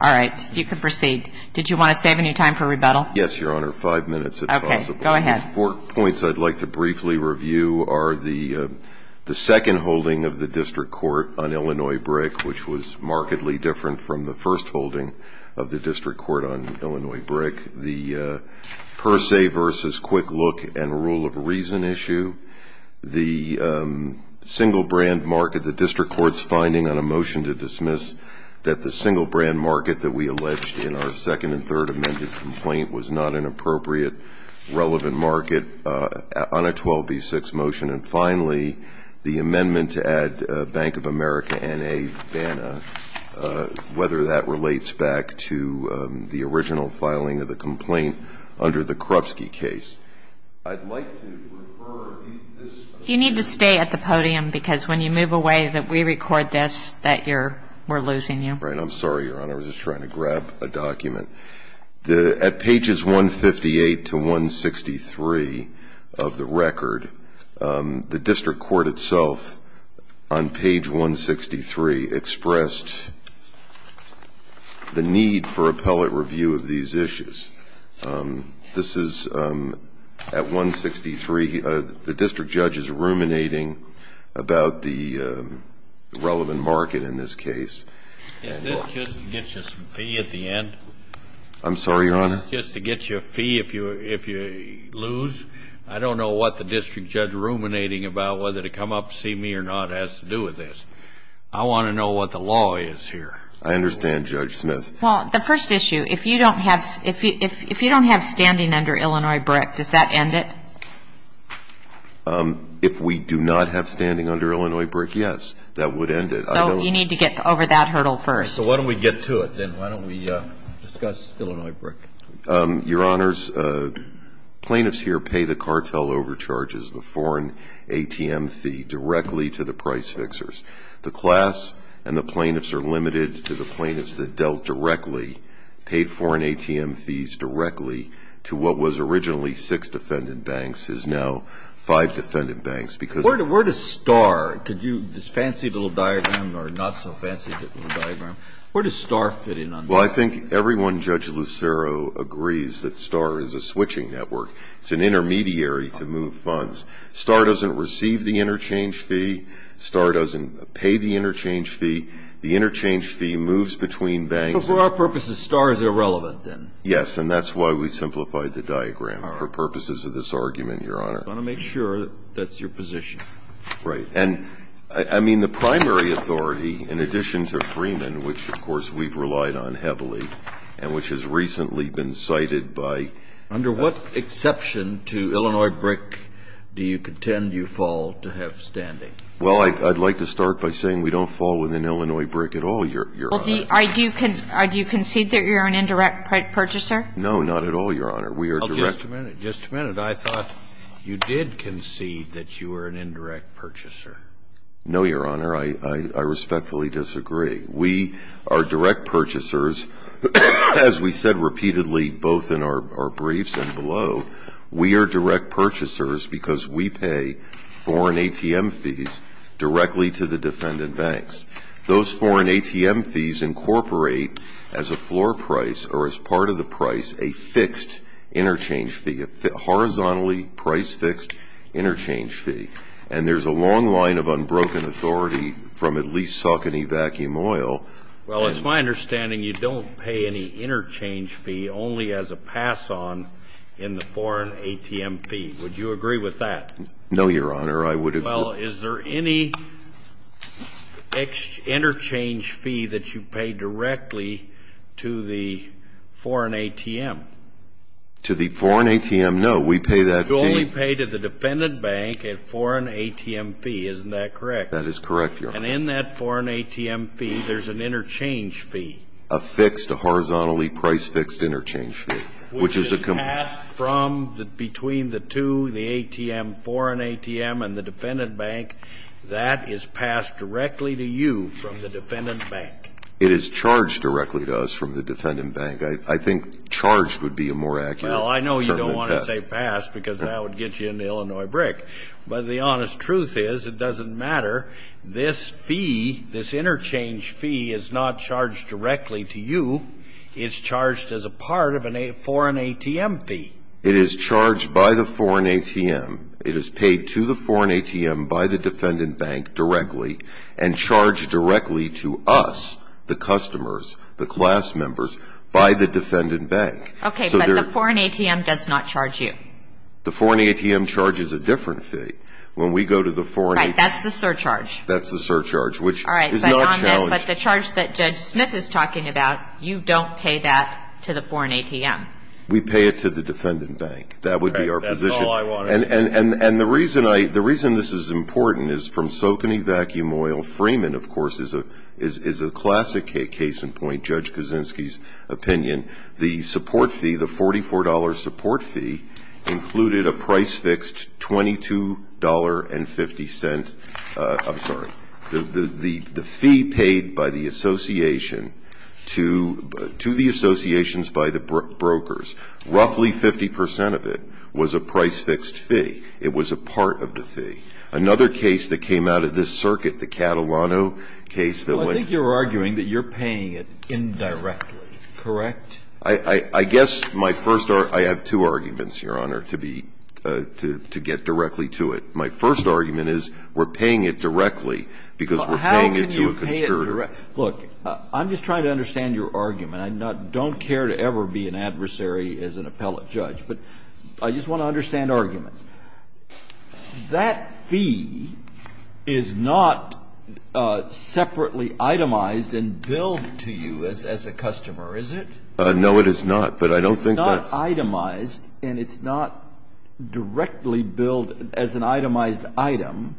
All right, you can proceed. Did you want to save any time for rebuttal? Yes, Your Honor, five minutes if possible. Okay, go ahead. The four points I'd like to briefly review are the second holding of the District Court on Illinois BRIC, which was markedly different from the first holding of the District Court on Illinois BRIC, the per se versus quick look and rule of reason issue, the single brand market, the District Court's finding on a motion to dismiss that the single brand market that we alleged in our second and third amended complaint was not an appropriate relevant market on a 12b6 motion, and finally, the amendment to add Bank of America and a BANA, whether that relates back to the original filing of the complaint under the Krupski case. I'd like to refer this. You need to stay at the podium because when you move away that we record this, that you're we're losing you. I'm sorry, Your Honor. I was just trying to grab a document. At pages 158 to 163 of the record, the District Court itself on page 163 expressed the need for appellate review of these issues. This is at 163. The District Judge is ruminating about the relevant market in this case. Is this just to get you some fee at the end? I'm sorry, Your Honor. Just to get you a fee if you lose? I don't know what the District Judge ruminating about whether to come up and see me or not has to do with this. I want to know what the law is here. I understand, Judge Smith. Well, the first issue, if you don't have standing under Illinois BRIC, does that end it? If we do not have standing under Illinois BRIC, yes, that would end it. So you need to get over that hurdle first. So why don't we get to it, then? Why don't we discuss Illinois BRIC? Your Honors, plaintiffs here pay the cartel overcharges, the foreign ATM fee, directly to the price fixers. The class and the plaintiffs are limited to the plaintiffs that dealt directly, paid foreign ATM fees directly to what was originally six defendant banks is now five defendant banks because Where does STAR, this fancy little diagram or not so fancy little diagram, where does STAR fit in on this? Well, I think everyone, Judge Lucero, agrees that STAR is a switching network. It's an intermediary to move funds. STAR doesn't receive the interchange fee. STAR doesn't pay the interchange fee. The interchange fee moves between banks. So for our purposes, STAR is irrelevant, then? Yes, and that's why we simplified the diagram for purposes of this argument, Your Honor. I want to make sure that that's your position. Right. And I mean, the primary authority, in addition to Freeman, which, of course, we've relied on heavily and which has recently been cited by Under what exception to Illinois BRIC do you contend you fall to have standing? Well, I'd like to start by saying we don't fall within Illinois BRIC at all, Your Honor. Well, do you concede that you're an indirect purchaser? No, not at all, Your Honor. We are direct Just a minute. Just a minute. I thought you did concede that you were an indirect purchaser. No, Your Honor. I respectfully disagree. We are direct purchasers. As we said repeatedly both in our briefs and below, we are direct purchasers because we pay foreign ATM fees directly to the defendant banks. Those foreign ATM fees incorporate as a floor price or as part of the price a fixed interchange fee, a horizontally price-fixed interchange fee. And there's a long line of unbroken authority from at least Saucony Vacuum Oil. Well, it's my understanding you don't pay any interchange fee, only as a pass-on in the foreign ATM fee. Would you agree with that? No, Your Honor. I would agree. Well, is there any interchange fee that you pay directly to the foreign ATM? To the foreign ATM, no. We pay that fee You only pay to the defendant bank a foreign ATM fee. Isn't that correct? That is correct, Your Honor. And in that foreign ATM fee, there's an interchange fee? A fixed, a horizontally price-fixed interchange fee, which is a between the two, the ATM, foreign ATM and the defendant bank. That is passed directly to you from the defendant bank. It is charged directly to us from the defendant bank. I think charged would be a more accurate term than passed. Well, I know you don't want to say passed because that would get you in the Illinois brick. But the honest truth is, it doesn't matter. This fee, this interchange fee, is not charged directly to you. It's charged as a part of a foreign ATM fee. It is charged by the foreign ATM. It is paid to the foreign ATM by the defendant bank directly and charged directly to us, the customers, the class members, by the defendant bank. Okay. But the foreign ATM does not charge you. The foreign ATM charges a different fee. When we go to the foreign ATM Right. That's the surcharge. That's the surcharge, which is not challenged. All right. But the charge that Judge Smith is talking about, you don't pay that to the foreign ATM. We pay it to the defendant bank. That would be our position. Right. That's all I want to know. And the reason this is important is from Socony Vacuum Oil, Freeman, of course, is a classic case in point, Judge Kaczynski's opinion. The support fee, the $44 support fee, included a price fixed $22.50. I'm sorry. The fee paid by the association to the associations by the brokers, roughly 50 percent of it was a price fixed fee. It was a part of the fee. Another case that came out of this circuit, the Catalano case that went Well, I think you're arguing that you're paying it indirectly, correct? I guess my first argument, I have two arguments, Your Honor, to be, to get directly to it. My first argument is we're paying it directly because we're paying it to a conspirator. Look, I'm just trying to understand your argument. I don't care to ever be an adversary as an appellate judge, but I just want to understand arguments. That fee is not separately itemized and billed to you as a customer, is it? No, it is not, but I don't think that's and it's not directly billed as an itemized item.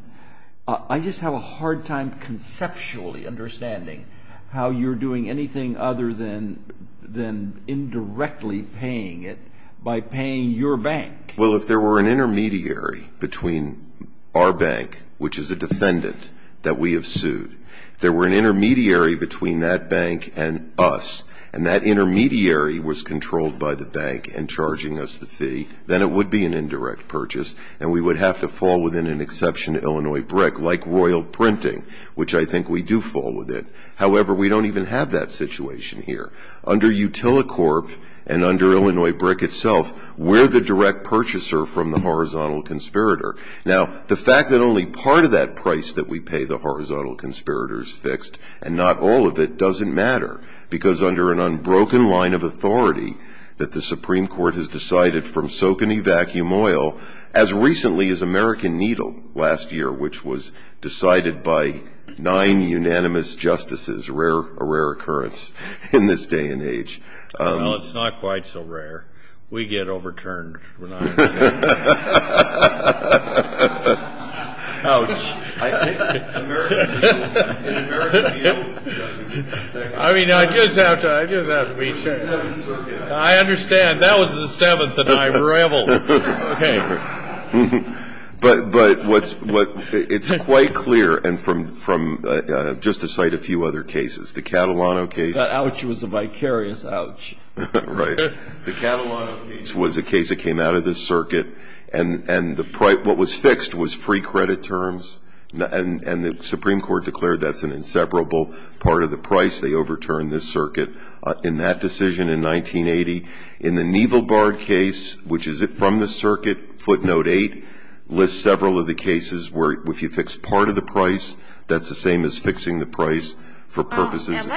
I just have a hard time conceptually understanding how you're doing anything other than indirectly paying it by paying your bank. Well, if there were an intermediary between our bank, which is a defendant that we have sued, if there were an intermediary between that bank and us and that intermediary was controlled by the bank and charging us the fee, then it would be an indirect purchase and we would have to fall within an exception to Illinois BRIC, like royal printing, which I think we do fall within. However, we don't even have that situation here. Under Utilicorp and under Illinois BRIC itself, we're the direct purchaser from the horizontal conspirator. Now, the fact that only part of that price that we pay the horizontal conspirator is fixed and not all of it doesn't matter because under an unbroken line of authority that the Supreme Court has decided from soak and evacuum oil, as recently as American Needle last year, which was decided by nine unanimous justices, a rare occurrence in this day and age. Well, it's not quite so rare. We get overturned. Ouch. I mean, I just have to be fair. I understand. That was the seventh that I reveled. Okay. But it's quite clear and from just to cite a few other cases, the Catalano case. That ouch was a vicarious ouch. Right. The Catalano case was a case that came out of this circuit. And the price, what was fixed was free credit terms. And the Supreme Court declared that's an inseparable part of the price. They overturned this circuit in that decision in 1980. In the Nieval-Bard case, which is from the circuit footnote 8, lists several of the cases where if you fix part of the price, that's the same as fixing the price for purposes.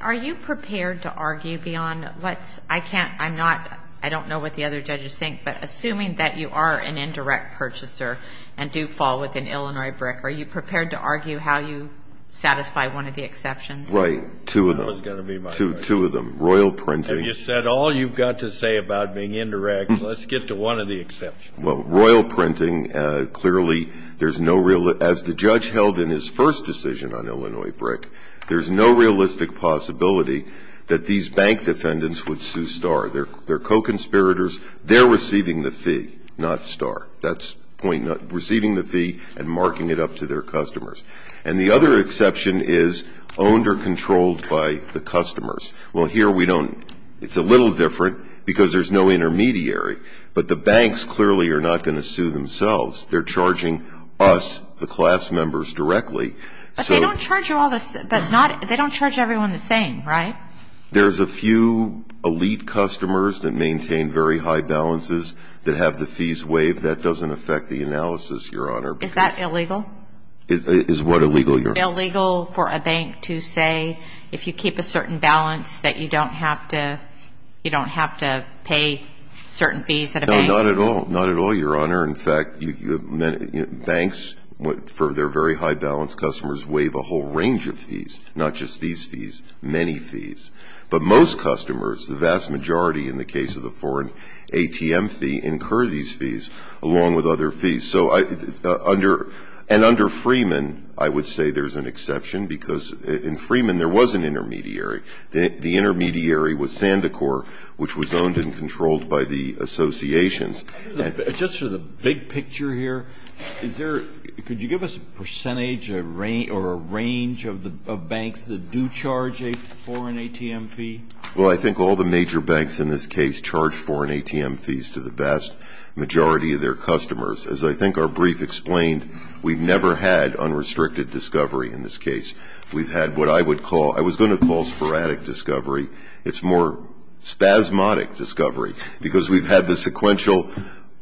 Are you prepared to argue beyond what's, I can't, I'm not, I don't know what the other judges think, but assuming that you are an indirect purchaser and do fall within Illinois BRIC, are you prepared to argue how you satisfy one of the exceptions? Right. Two of them. Two of them. Royal printing. You said all you've got to say about being indirect. Let's get to one of the exceptions. Well, royal printing, clearly, there's no real, as the judge held in his first decision on Illinois BRIC, there's no realistic possibility that these bank defendants would sue Starr. They're co-conspirators. They're receiving the fee, not Starr. That's the point. Receiving the fee and marking it up to their customers. And the other exception is owned or controlled by the customers. Well, here we don't. It's a little different because there's no intermediary. But the banks clearly are not going to sue themselves. They're charging us, the class members, directly. But they don't charge everyone the same, right? There's a few elite customers that maintain very high balances that have the fees waived. That doesn't affect the analysis, Your Honor. Is that illegal? Is what illegal, Your Honor? Is it illegal for a bank to say, if you keep a certain balance, that you don't have to pay certain fees at a bank? No, not at all. Not at all, Your Honor. In fact, banks, for their very high balance, customers waive a whole range of fees, not just these fees, many fees. But most customers, the vast majority in the case of the foreign ATM fee, incur these fees along with other fees. And under Freeman, I would say there's an exception because in Freeman there was an intermediary. The intermediary was Sandicor, which was owned and controlled by the associations. Just for the big picture here, is there, could you give us a percentage or a range of banks that do charge a foreign ATM fee? Well, I think all the major banks in this case charge foreign ATM fees to the vast majority of their customers. As I think our brief explained, we've never had unrestricted discovery in this case. We've had what I would call, I was going to call sporadic discovery. It's more spasmodic discovery because we've had the sequential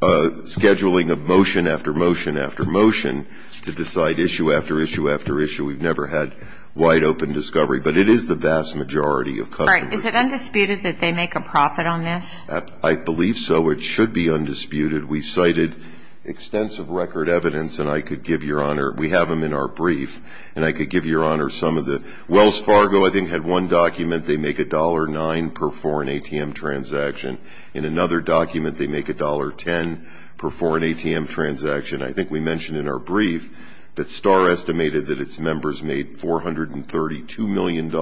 scheduling of motion after motion after motion to decide issue after issue after issue. We've never had wide open discovery. But it is the vast majority of customers. Right. Is it undisputed that they make a profit on this? I believe so. It should be undisputed. We cited extensive record evidence, and I could give Your Honor, we have them in our brief, and I could give Your Honor some of the Wells Fargo, I think, had one document. They make $1.09 per foreign ATM transaction. In another document, they make $1.10 per foreign ATM transaction. I think we mentioned in our brief that Star estimated that its members made $432 million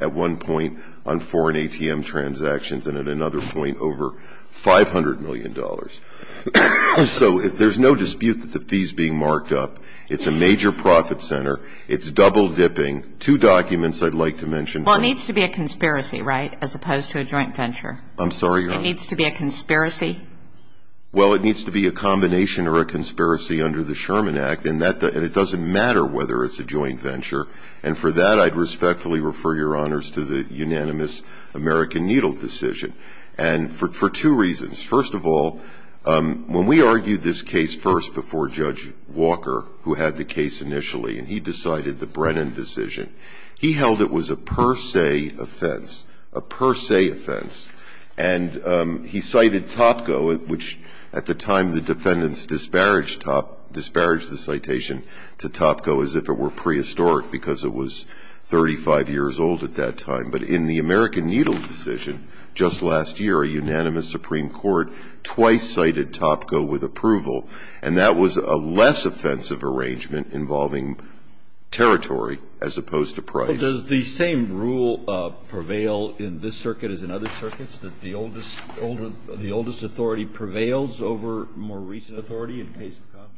at one point on foreign ATM transactions and at another point over $500 million. So there's no dispute that the fee's being marked up. It's a major profit center. It's double dipping. Two documents I'd like to mention. Well, it needs to be a conspiracy, right, as opposed to a joint venture? I'm sorry, Your Honor. It needs to be a conspiracy? Well, it needs to be a combination or a conspiracy under the Sherman Act, and it doesn't matter whether it's a joint venture. And for that, I'd respectfully refer Your Honors to the unanimous American Needle decision, and for two reasons. First of all, when we argued this case first before Judge Walker, who had the case initially, and he decided the Brennan decision, he held it was a per se offense, a per se offense. And he cited Topko, which at the time the defendants disparaged Topko, disparaged the citation to Topko as if it were prehistoric because it was 35 years old at that time. But in the American Needle decision just last year, a unanimous Supreme Court twice cited Topko with approval, and that was a less offensive arrangement involving territory as opposed to price. Well, does the same rule prevail in this circuit as in other circuits, that the oldest authority prevails over more recent authority in case of conflict?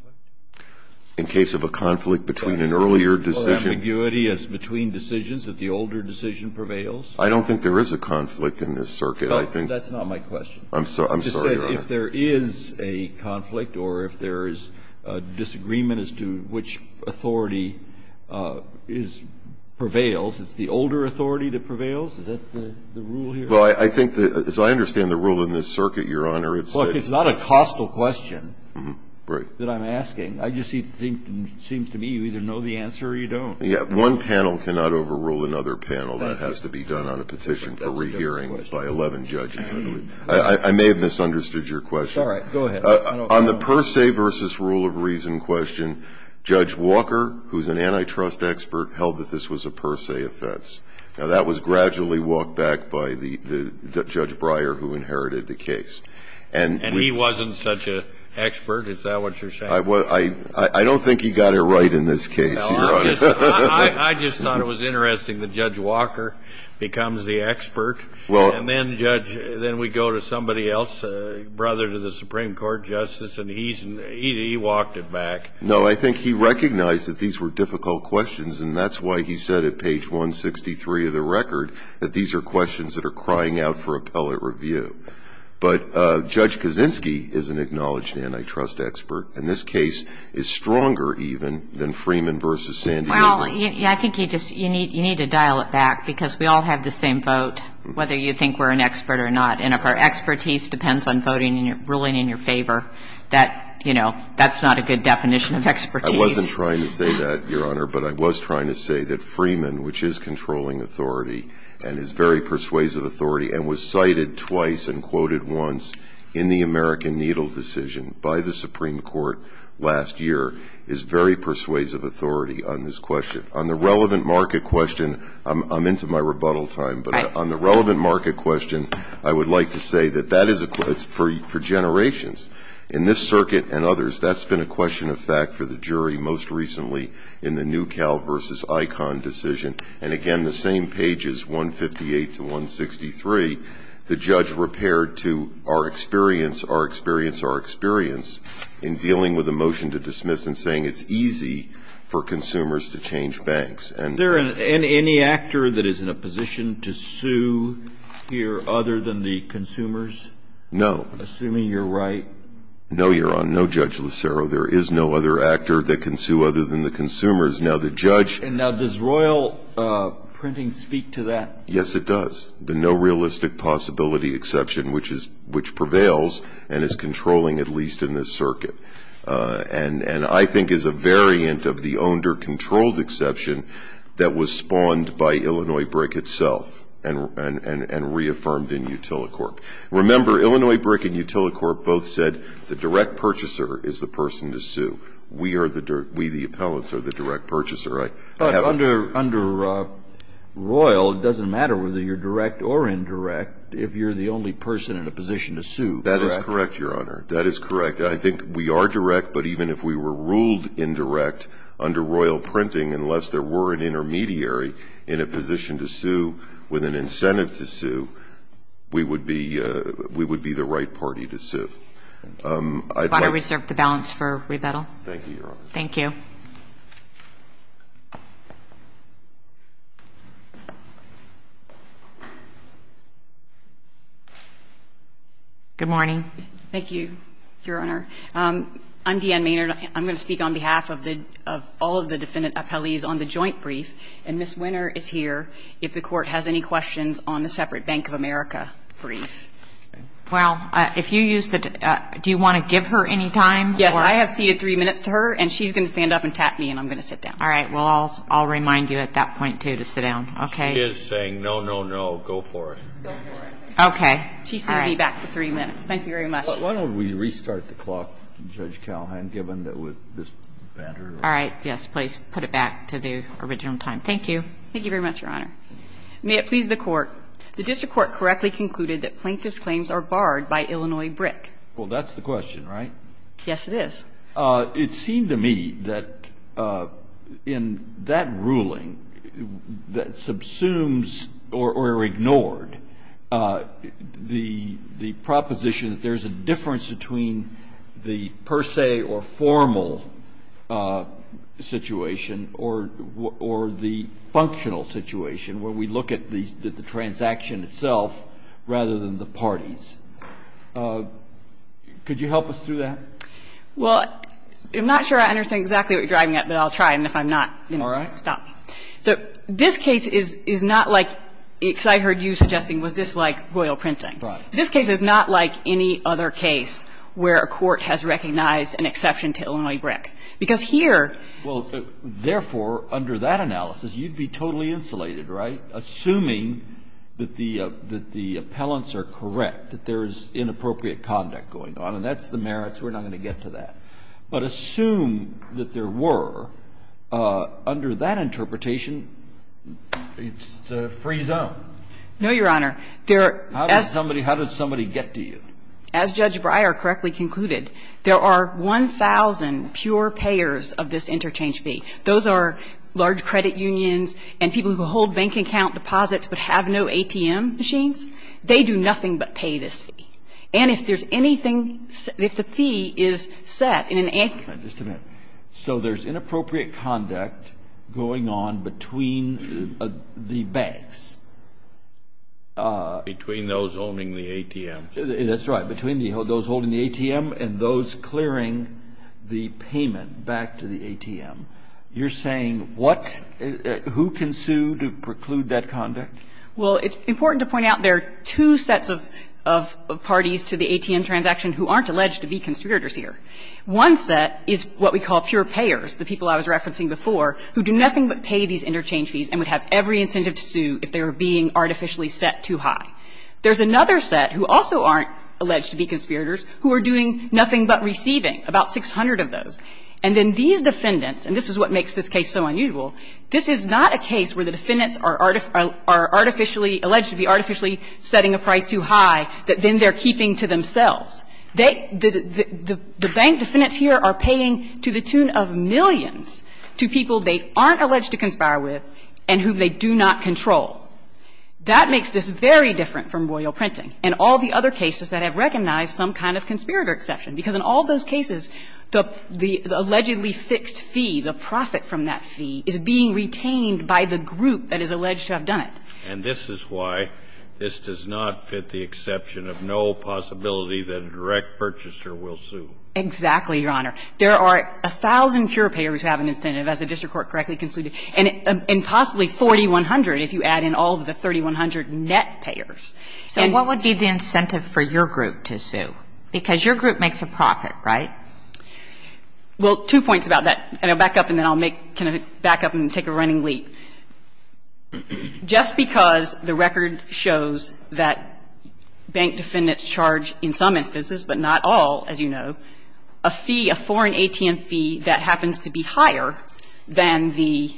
In case of a conflict between an earlier decision? Or ambiguity between decisions, that the older decision prevails? I don't think there is a conflict in this circuit. That's not my question. I'm sorry, Your Honor. If there is a conflict or if there is disagreement as to which authority prevails, it's the older authority that prevails? Is that the rule here? Well, I think that as I understand the rule in this circuit, Your Honor, it's a ---- Look, it's not a costal question that I'm asking. I just think it seems to me you either know the answer or you don't. Yes. One panel cannot overrule another panel. That has to be done on a petition for rehearing by 11 judges, I believe. I may have misunderstood your question. It's all right. Go ahead. On the per se versus rule of reason question, Judge Walker, who is an antitrust expert, held that this was a per se offense. Now, that was gradually walked back by Judge Breyer, who inherited the case. And he wasn't such an expert? Is that what you're saying? I don't think he got it right in this case, Your Honor. I just thought it was interesting that Judge Walker becomes the expert. And then, Judge, then we go to somebody else, brother to the Supreme Court justice, and he walked it back. No, I think he recognized that these were difficult questions, and that's why he said at page 163 of the record that these are questions that are crying out for appellate review. But Judge Kaczynski is an acknowledged antitrust expert, and this case is stronger even than Freeman v. Sandino. Well, I think you need to dial it back, because we all have the same vote, whether you think we're an expert or not. And if our expertise depends on voting and ruling in your favor, that, you know, that's not a good definition of expertise. I wasn't trying to say that, Your Honor, but I was trying to say that Freeman, which is controlling authority and is very persuasive authority and was cited twice and quoted once in the American Needle decision by the Supreme Court last year, is very persuasive authority on this question. On the relevant market question, I'm into my rebuttal time, but on the relevant market question, I would like to say that that is for generations. In this circuit and others, that's been a question of fact for the jury most recently in the New Cal v. ICON decision. And, again, the same page is 158 to 163. The judge repaired to our experience, our experience, our experience in dealing with a motion to dismiss and saying it's easy for consumers to change banks. Is there any actor that is in a position to sue here other than the consumers? No. Assuming you're right. No, Your Honor. No, Judge Lucero. There is no other actor that can sue other than the consumers. Now, the judge — Now, does royal printing speak to that? Yes, it does. The no realistic possibility exception, which prevails and is controlling at least in this circuit, and I think is a variant of the owned or controlled exception that was spawned by Illinois Brick itself and reaffirmed in Utilicorp. Remember, Illinois Brick and Utilicorp both said the direct purchaser is the person to sue. We, the appellants, are the direct purchaser. But under royal, it doesn't matter whether you're direct or indirect if you're the only person in a position to sue, correct? That is correct, Your Honor. That is correct. I think we are direct, but even if we were ruled indirect under royal printing, unless there were an intermediary in a position to sue with an incentive to sue, we would be the right party to sue. I'd like to reserve the balance for rebuttal. Thank you, Your Honor. Thank you. Good morning. Thank you, Your Honor. I'm Deanne Maynard. I'm going to speak on behalf of all of the defendant appellees on the joint brief, and Ms. Winner is here if the Court has any questions on the separate Bank of America brief. Well, if you use the do you want to give her any time? Yes. I have ceded three minutes to her, and she's going to stand up and tap me, and I'm going to sit down. All right. Well, I'll remind you at that point, too, to sit down. Okay? She is saying no, no, no. Go for it. Go for it. Okay. All right. She's going to be back for three minutes. Thank you very much. Why don't we restart the clock, Judge Calhoun, given that with this banter? All right. Yes, please. Put it back to the original time. Thank you. Thank you very much, Your Honor. May it please the Court. The district court correctly concluded that plaintiff's claims are barred by Illinois BRIC. Well, that's the question, right? Yes, it is. It seemed to me that in that ruling that subsumes or are ignored the proposition that there's a difference between the per se or formal situation or the functional situation where we look at the transaction itself rather than the parties. Could you help us through that? Well, I'm not sure I understand exactly what you're driving at, but I'll try. And if I'm not, you know, stop me. All right. So this case is not like, because I heard you suggesting, was this like royal printing. Right. This case is not like any other case where a court has recognized an exception to Illinois BRIC. Because here ---- Well, therefore, under that analysis, you'd be totally insulated, right, assuming that the appellants are correct, that there's inappropriate conduct going on. And that's the merits. We're not going to get to that. But assume that there were. Under that interpretation, it's a free zone. No, Your Honor. There are ---- How does somebody get to you? As Judge Breyer correctly concluded, there are 1,000 pure payers of this interchange fee. Those are large credit unions and people who hold bank account deposits but have no ATM machines. They do nothing but pay this fee. And if there's anything ---- if the fee is set in an ---- All right. Just a minute. So there's inappropriate conduct going on between the banks. Between those owning the ATMs. That's right. Between those holding the ATM and those clearing the payment back to the ATM. You're saying what ---- who can sue to preclude that conduct? Well, it's important to point out there are two sets of parties to the ATM transaction who aren't alleged to be conspirators here. One set is what we call pure payers, the people I was referencing before, who do nothing but pay these interchange fees and would have every incentive to sue if they were being artificially set too high. There's another set who also aren't alleged to be conspirators who are doing nothing but receiving, about 600 of those. And then these defendants, and this is what makes this case so unusual, this is not a case where the defendants are artificially ---- alleged to be artificially setting a price too high that then they're keeping to themselves. They ---- the bank defendants here are paying to the tune of millions to people they aren't alleged to conspire with and whom they do not control. That makes this very different from royal printing and all the other cases that have recognized some kind of conspirator exception, because in all those cases, the allegedly fixed fee, the profit from that fee, is being retained by the group that is alleged to have done it. And this is why this does not fit the exception of no possibility that a direct purchaser will sue. Exactly, Your Honor. There are 1,000 pure payers who have an incentive, as the district court correctly concluded, and possibly 4,100 if you add in all of the 3,100 net payers. So what would be the incentive for your group to sue? Because your group makes a profit, right? Well, two points about that, and I'll back up and then I'll make ---- kind of back up and take a running leap. Just because the record shows that bank defendants charge in some instances, but not all, as you know, a fee, a foreign ATM fee that happens to be higher than the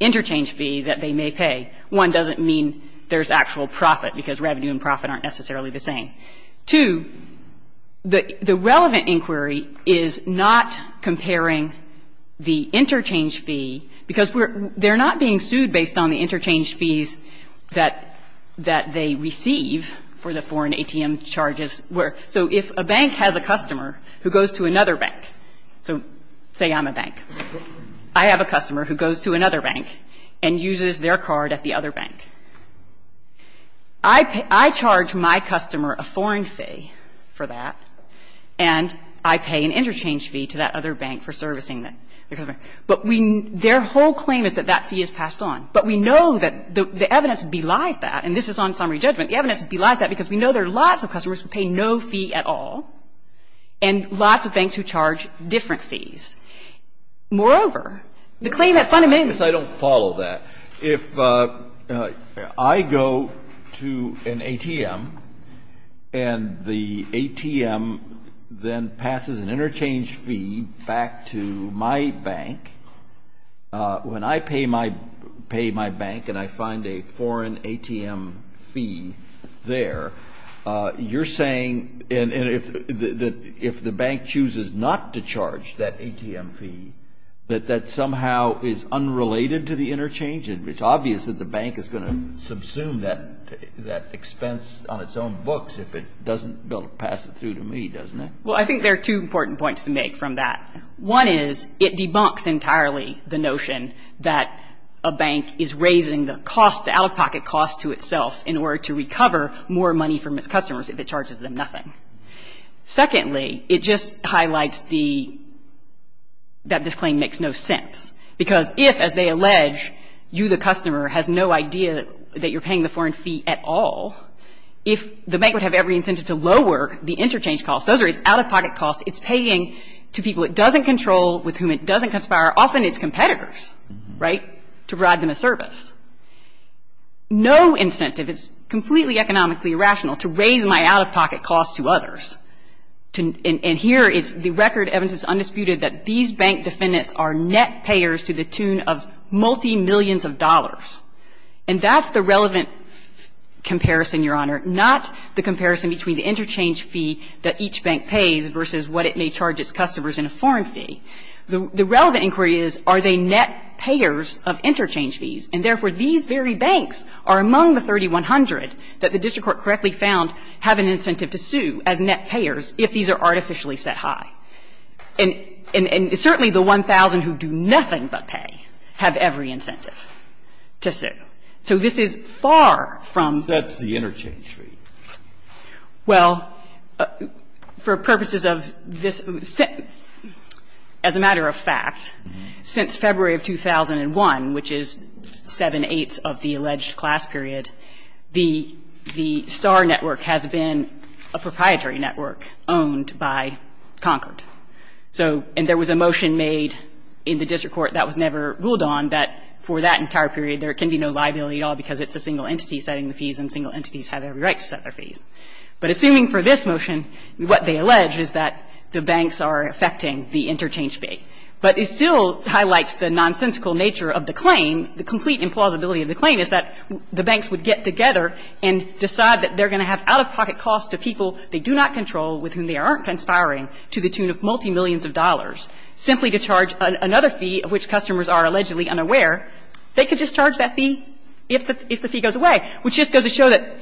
interchange fee that they may pay, one, doesn't mean there's actual profit, because revenue and profit aren't necessarily the same. Two, the relevant inquiry is not comparing the interchange fee, because they're not being sued based on the interchange fees that they receive for the foreign ATM charges where ---- so if a bank has a customer who goes to another bank, so say I'm a bank. I have a customer who goes to another bank and uses their card at the other bank. I charge my customer a foreign fee for that, and I pay an interchange fee to that other bank for servicing the other bank. But we ---- their whole claim is that that fee is passed on. But we know that the evidence belies that, and this is on summary judgment, the evidence belies that because we know there are lots of customers who pay no fee at all and lots of banks who charge different fees. Moreover, the claim that fundamentally ---- Kennedy, I don't follow that. If I go to an ATM and the ATM then passes an interchange fee back to my bank, when I pay my bank and I find a foreign ATM fee there, you're saying that if the bank chooses not to charge that ATM fee, that that somehow is unrelated to the interchange? It's obvious that the bank is going to subsume that expense on its own books if it doesn't pass it through to me, doesn't it? Well, I think there are two important points to make from that. One is it debunks entirely the notion that a bank is raising the cost, the out-of-pocket cost to itself in order to recover more money from its customers if it charges them nothing. Secondly, it just highlights the ---- that this claim makes no sense, because if, as they allege, you, the customer, has no idea that you're paying the foreign fee at all, if the bank would have every incentive to lower the interchange cost, those are its out-of-pocket costs it's paying to people it doesn't control, with whom it doesn't conspire, often its competitors, right, to provide them a service. No incentive, it's completely economically irrational to raise my out-of-pocket costs to others. And here it's the record evidence is undisputed that these bank defendants are net payers to the tune of multimillions of dollars. And that's the relevant comparison, Your Honor, not the comparison between the interchange fee that each bank pays versus what it may charge its customers in a foreign fee. The relevant inquiry is, are they net payers of interchange fees, and therefore, these very banks are among the 3,100 that the district court correctly found have an incentive to sue as net payers if these are artificially set high. And certainly the 1,000 who do nothing but pay have every incentive to sue. So this is far from the interchange fee. Well, for purposes of this sentence, as a matter of fact, since February of 2001, which is seven-eighths of the alleged class period, the STAR network has been a proprietary network owned by Concord. So and there was a motion made in the district court that was never ruled on that for that entire period there can be no liability at all because it's a single entity setting the fees and single entities have every right to set their fees. But assuming for this motion, what they allege is that the banks are affecting the interchange fee. But it still highlights the nonsensical nature of the claim. The complete implausibility of the claim is that the banks would get together and decide that they're going to have out-of-pocket costs to people they do not control with whom they aren't conspiring to the tune of multimillions of dollars. Simply to charge another fee of which customers are allegedly unaware, they could just charge that fee if the fee goes away, which just goes to show that,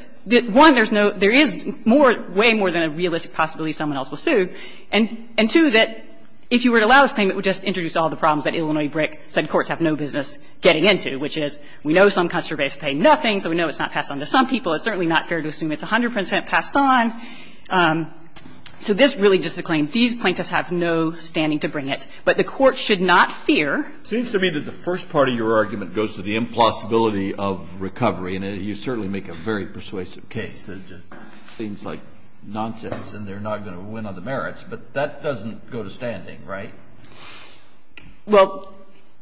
one, there is way more than a realistic possibility someone else will sue, and, two, that if you were to allow this claim, it would just introduce all the problems that Illinois BRIC said courts have no business getting into, which is, we know some customers pay nothing, so we know it's not passed on to some people. It's certainly not fair to assume it's 100 percent passed on. So this really is just a claim. These plaintiffs have no standing to bring it. But the Court should not fear. Kennedy, It seems to me that the first part of your argument goes to the implausibility of recovery, and you certainly make a very persuasive case that it just seems like nonsense and they're not going to win on the merits. But that doesn't go to standing, right? Well,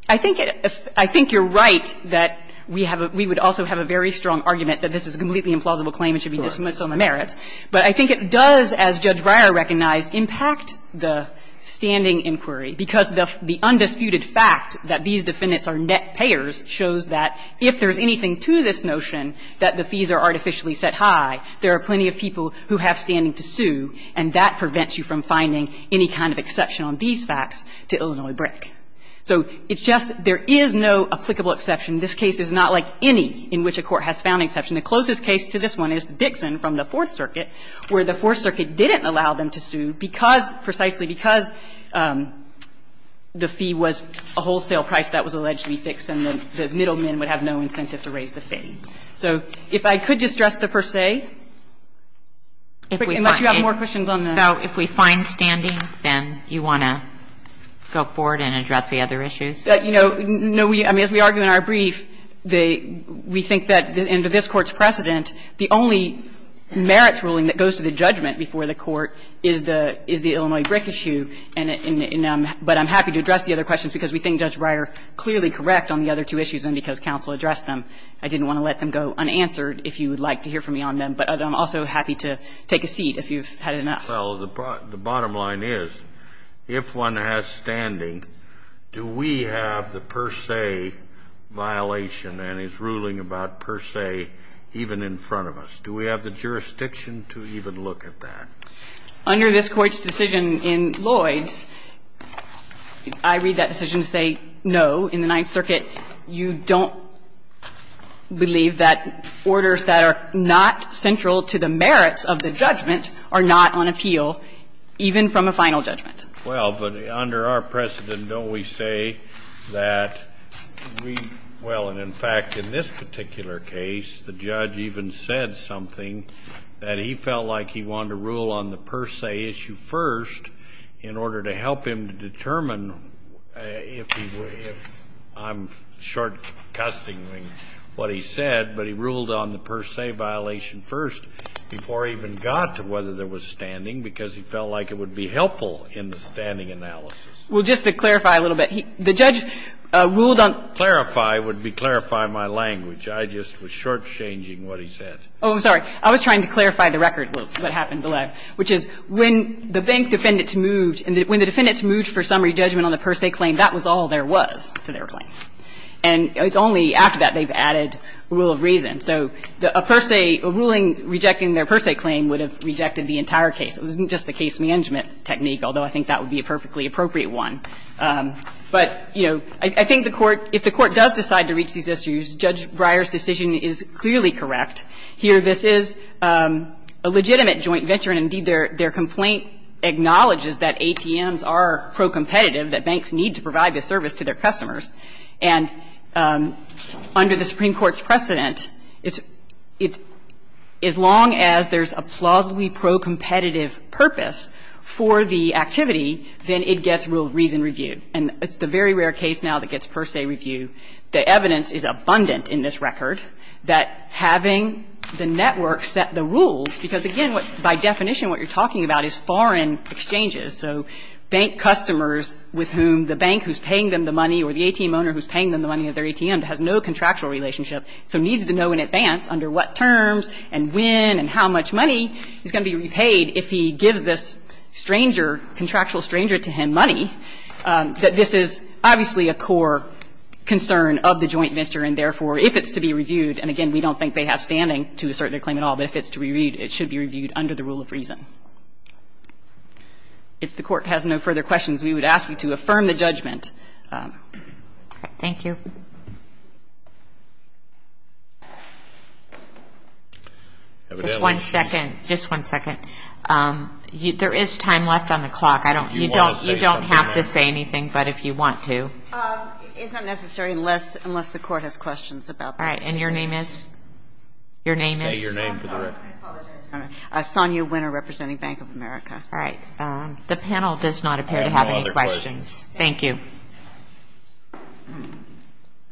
I think it – I think you're right that we have a – we would also have a very strong argument that this is a completely implausible claim and should be dismissed on the merits. But I think it does, as Judge Breyer recognized, impact the standing inquiry, because the undisputed fact that these defendants are net payers shows that if there's anything to this notion that the fees are artificially set high, there are plenty of people who have standing to sue, and that prevents you from finding any kind of evidence-based facts to Illinois brick. So it's just – there is no applicable exception. This case is not like any in which a court has found exception. The closest case to this one is Dixon from the Fourth Circuit, where the Fourth Circuit didn't allow them to sue because – precisely because the fee was a wholesale price that was allegedly fixed, and the middlemen would have no incentive to raise the fee. So if I could just address the per se, unless you have more questions on this. If we find standing, then you want to go forward and address the other issues? You know, no, we – I mean, as we argue in our brief, the – we think that in this Court's precedent, the only merits ruling that goes to the judgment before the Court is the – is the Illinois brick issue, and I'm – but I'm happy to address the other questions, because we think Judge Breyer clearly correct on the other two issues, and because counsel addressed them, I didn't want to let them go unanswered if you would like to hear from me on them, but I'm also happy to take a seat if you've had enough. Kennedy, the bottom line is, if one has standing, do we have the per se violation and his ruling about per se even in front of us? Do we have the jurisdiction to even look at that? Under this Court's decision in Lloyds, I read that decision to say, no, in the Ninth Circuit, you don't believe that orders that are not central to the merits of the judgment are not on appeal, even from a final judgment. Well, but under our precedent, don't we say that we – well, and in fact, in this particular case, the judge even said something, that he felt like he wanted to rule on the per se issue first in order to help him determine if he would – if I'm short-custing what he said, but he ruled on the per se violation first before he even got to whether there was standing, because he felt like it would be helpful in the standing analysis. Well, just to clarify a little bit, the judge ruled on – Clarify would be clarify my language. I just was shortchanging what he said. Oh, I'm sorry. I was trying to clarify the record, what happened below. I was trying to clarify what he said, which is when the bank defendant moved and when the defendant moved for summary judgment on the per se claim, that was all there was to their claim. And it's only after that they've added a rule of reason. So a per se – a ruling rejecting their per se claim would have rejected the entire case. It wasn't just a case-management technique, although I think that would be a perfectly appropriate one. But, you know, I think the Court – if the Court does decide to reach these issues, Judge Breyer's decision is clearly correct. Here, this is a legitimate joint venture, and indeed, their complaint acknowledges that ATMs are pro-competitive, that banks need to provide this service to their customers. And under the Supreme Court's precedent, it's – as long as there's a plausibly pro-competitive purpose for the activity, then it gets rule of reason reviewed. And it's the very rare case now that gets per se reviewed. The evidence is abundant in this record that having the network set the rules, because, again, by definition, what you're talking about is foreign exchanges. So bank customers with whom the bank who's paying them the money or the ATM owner who's paying them the money of their ATM has no contractual relationship, so needs to know in advance under what terms and when and how much money is going to be repaid if he gives this stranger, contractual stranger, to him money, that this is obviously a core concern of the joint venture. And, therefore, if it's to be reviewed, and, again, we don't think they have standing to assert their claim at all, but if it's to be reviewed, it should be reviewed under the rule of reason. If the Court has no further questions, we would ask you to affirm the judgment. Thank you. Just one second. Just one second. There is time left on the clock. I don't – you don't have to say anything. But if you want to. It's not necessary unless the Court has questions about that. All right. And your name is? Your name is? Say your name for the record. I apologize. All right. Sonya Winter, representing Bank of America. All right. The panel does not appear to have any questions. Thank you.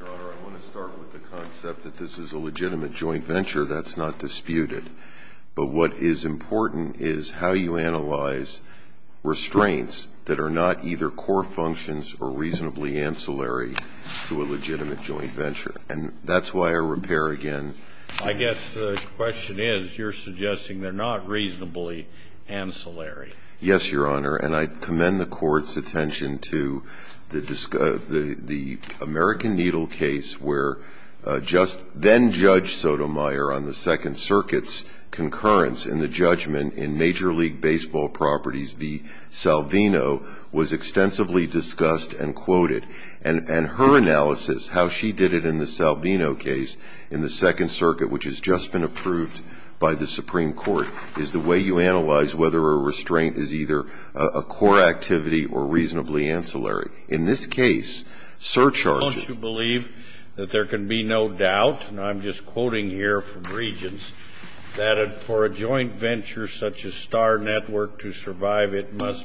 Your Honor, I want to start with the concept that this is a legitimate joint venture. That's not disputed. But what is important is how you analyze restraints that are not either core functions or reasonably ancillary to a legitimate joint venture. And that's why our repair, again – I guess the question is, you're suggesting they're not reasonably ancillary. Yes, Your Honor. And I commend the Court's attention to the American Needle case where just then-judge Sotomayor on the Second Circuit's concurrence in the judgment in Major League Baseball Properties v. Salvino was extensively discussed and quoted. And her analysis, how she did it in the Salvino case in the Second Circuit, which has just been approved by the Supreme Court, is the way you analyze whether a restraint is either a core activity or reasonably ancillary. In this case, surcharges – Don't you believe that there can be no doubt – and I'm just quoting here from must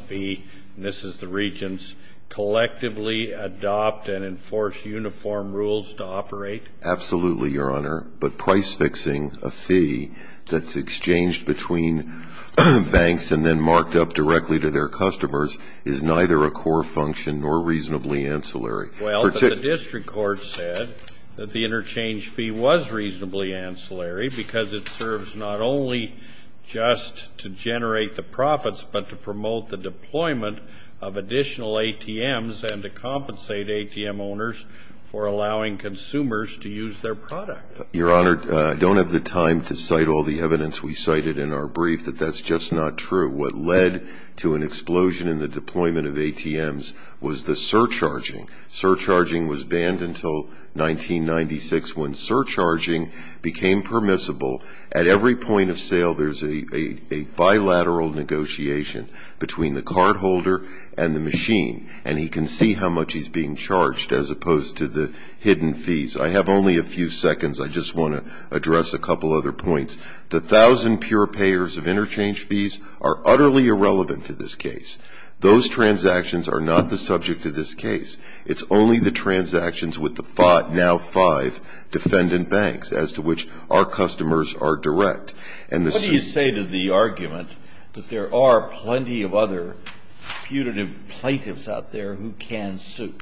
be – and this is the Regents – collectively adopt and enforce uniform rules to operate? Absolutely, Your Honor. But price-fixing a fee that's exchanged between banks and then marked up directly to their customers is neither a core function nor reasonably ancillary. Well, the district court said that the interchange fee was reasonably ancillary because it serves not only just to generate the profits but to promote the deployment of additional ATMs and to compensate ATM owners for allowing consumers to use their product. Your Honor, I don't have the time to cite all the evidence we cited in our brief that that's just not true. What led to an explosion in the deployment of ATMs was the surcharging. Surcharging was banned until 1996. When surcharging became permissible, at every point of sale, there's a bilateral negotiation between the cardholder and the machine, and he can see how much he's being charged as opposed to the hidden fees. I have only a few seconds. I just want to address a couple other points. The 1,000 pure payers of interchange fees are utterly irrelevant to this case. Those transactions are not the subject of this case. It's only the transactions with the five, now five, defendant banks as to which our customers are direct. What do you say to the argument that there are plenty of other putative plaintiffs out there who can sue?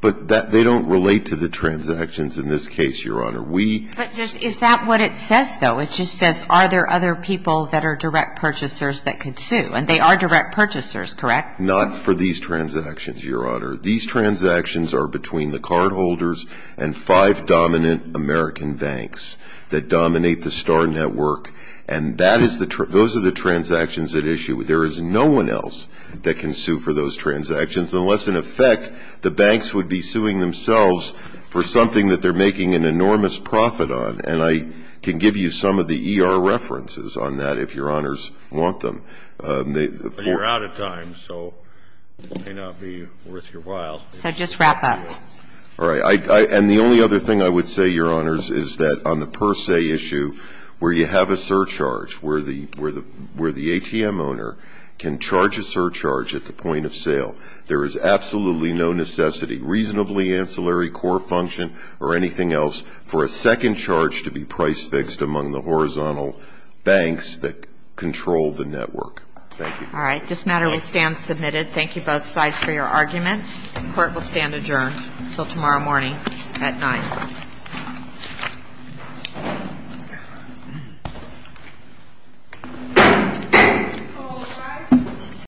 But they don't relate to the transactions in this case, Your Honor. Is that what it says, though? It just says, are there other people that are direct purchasers that could sue? And they are direct purchasers, correct? Not for these transactions, Your Honor. These transactions are between the cardholders and five dominant American banks that dominate the Star Network, and that is the tr- those are the transactions at issue. There is no one else that can sue for those transactions unless, in effect, the banks would be suing themselves for something that they're making an enormous profit on. And I can give you some of the ER references on that if Your Honors want them. But you're out of time, so it may not be worth your while. So just wrap up. All right. And the only other thing I would say, Your Honors, is that on the per se issue, where you have a surcharge, where the ATM owner can charge a surcharge at the point of sale, there is absolutely no necessity, reasonably ancillary core function or anything else, for a second charge to be price fixed among the horizontal banks that control the network. Thank you. All right. This matter will stand submitted. Thank you, both sides, for your arguments. Court will stand adjourned until tomorrow morning at 9.00.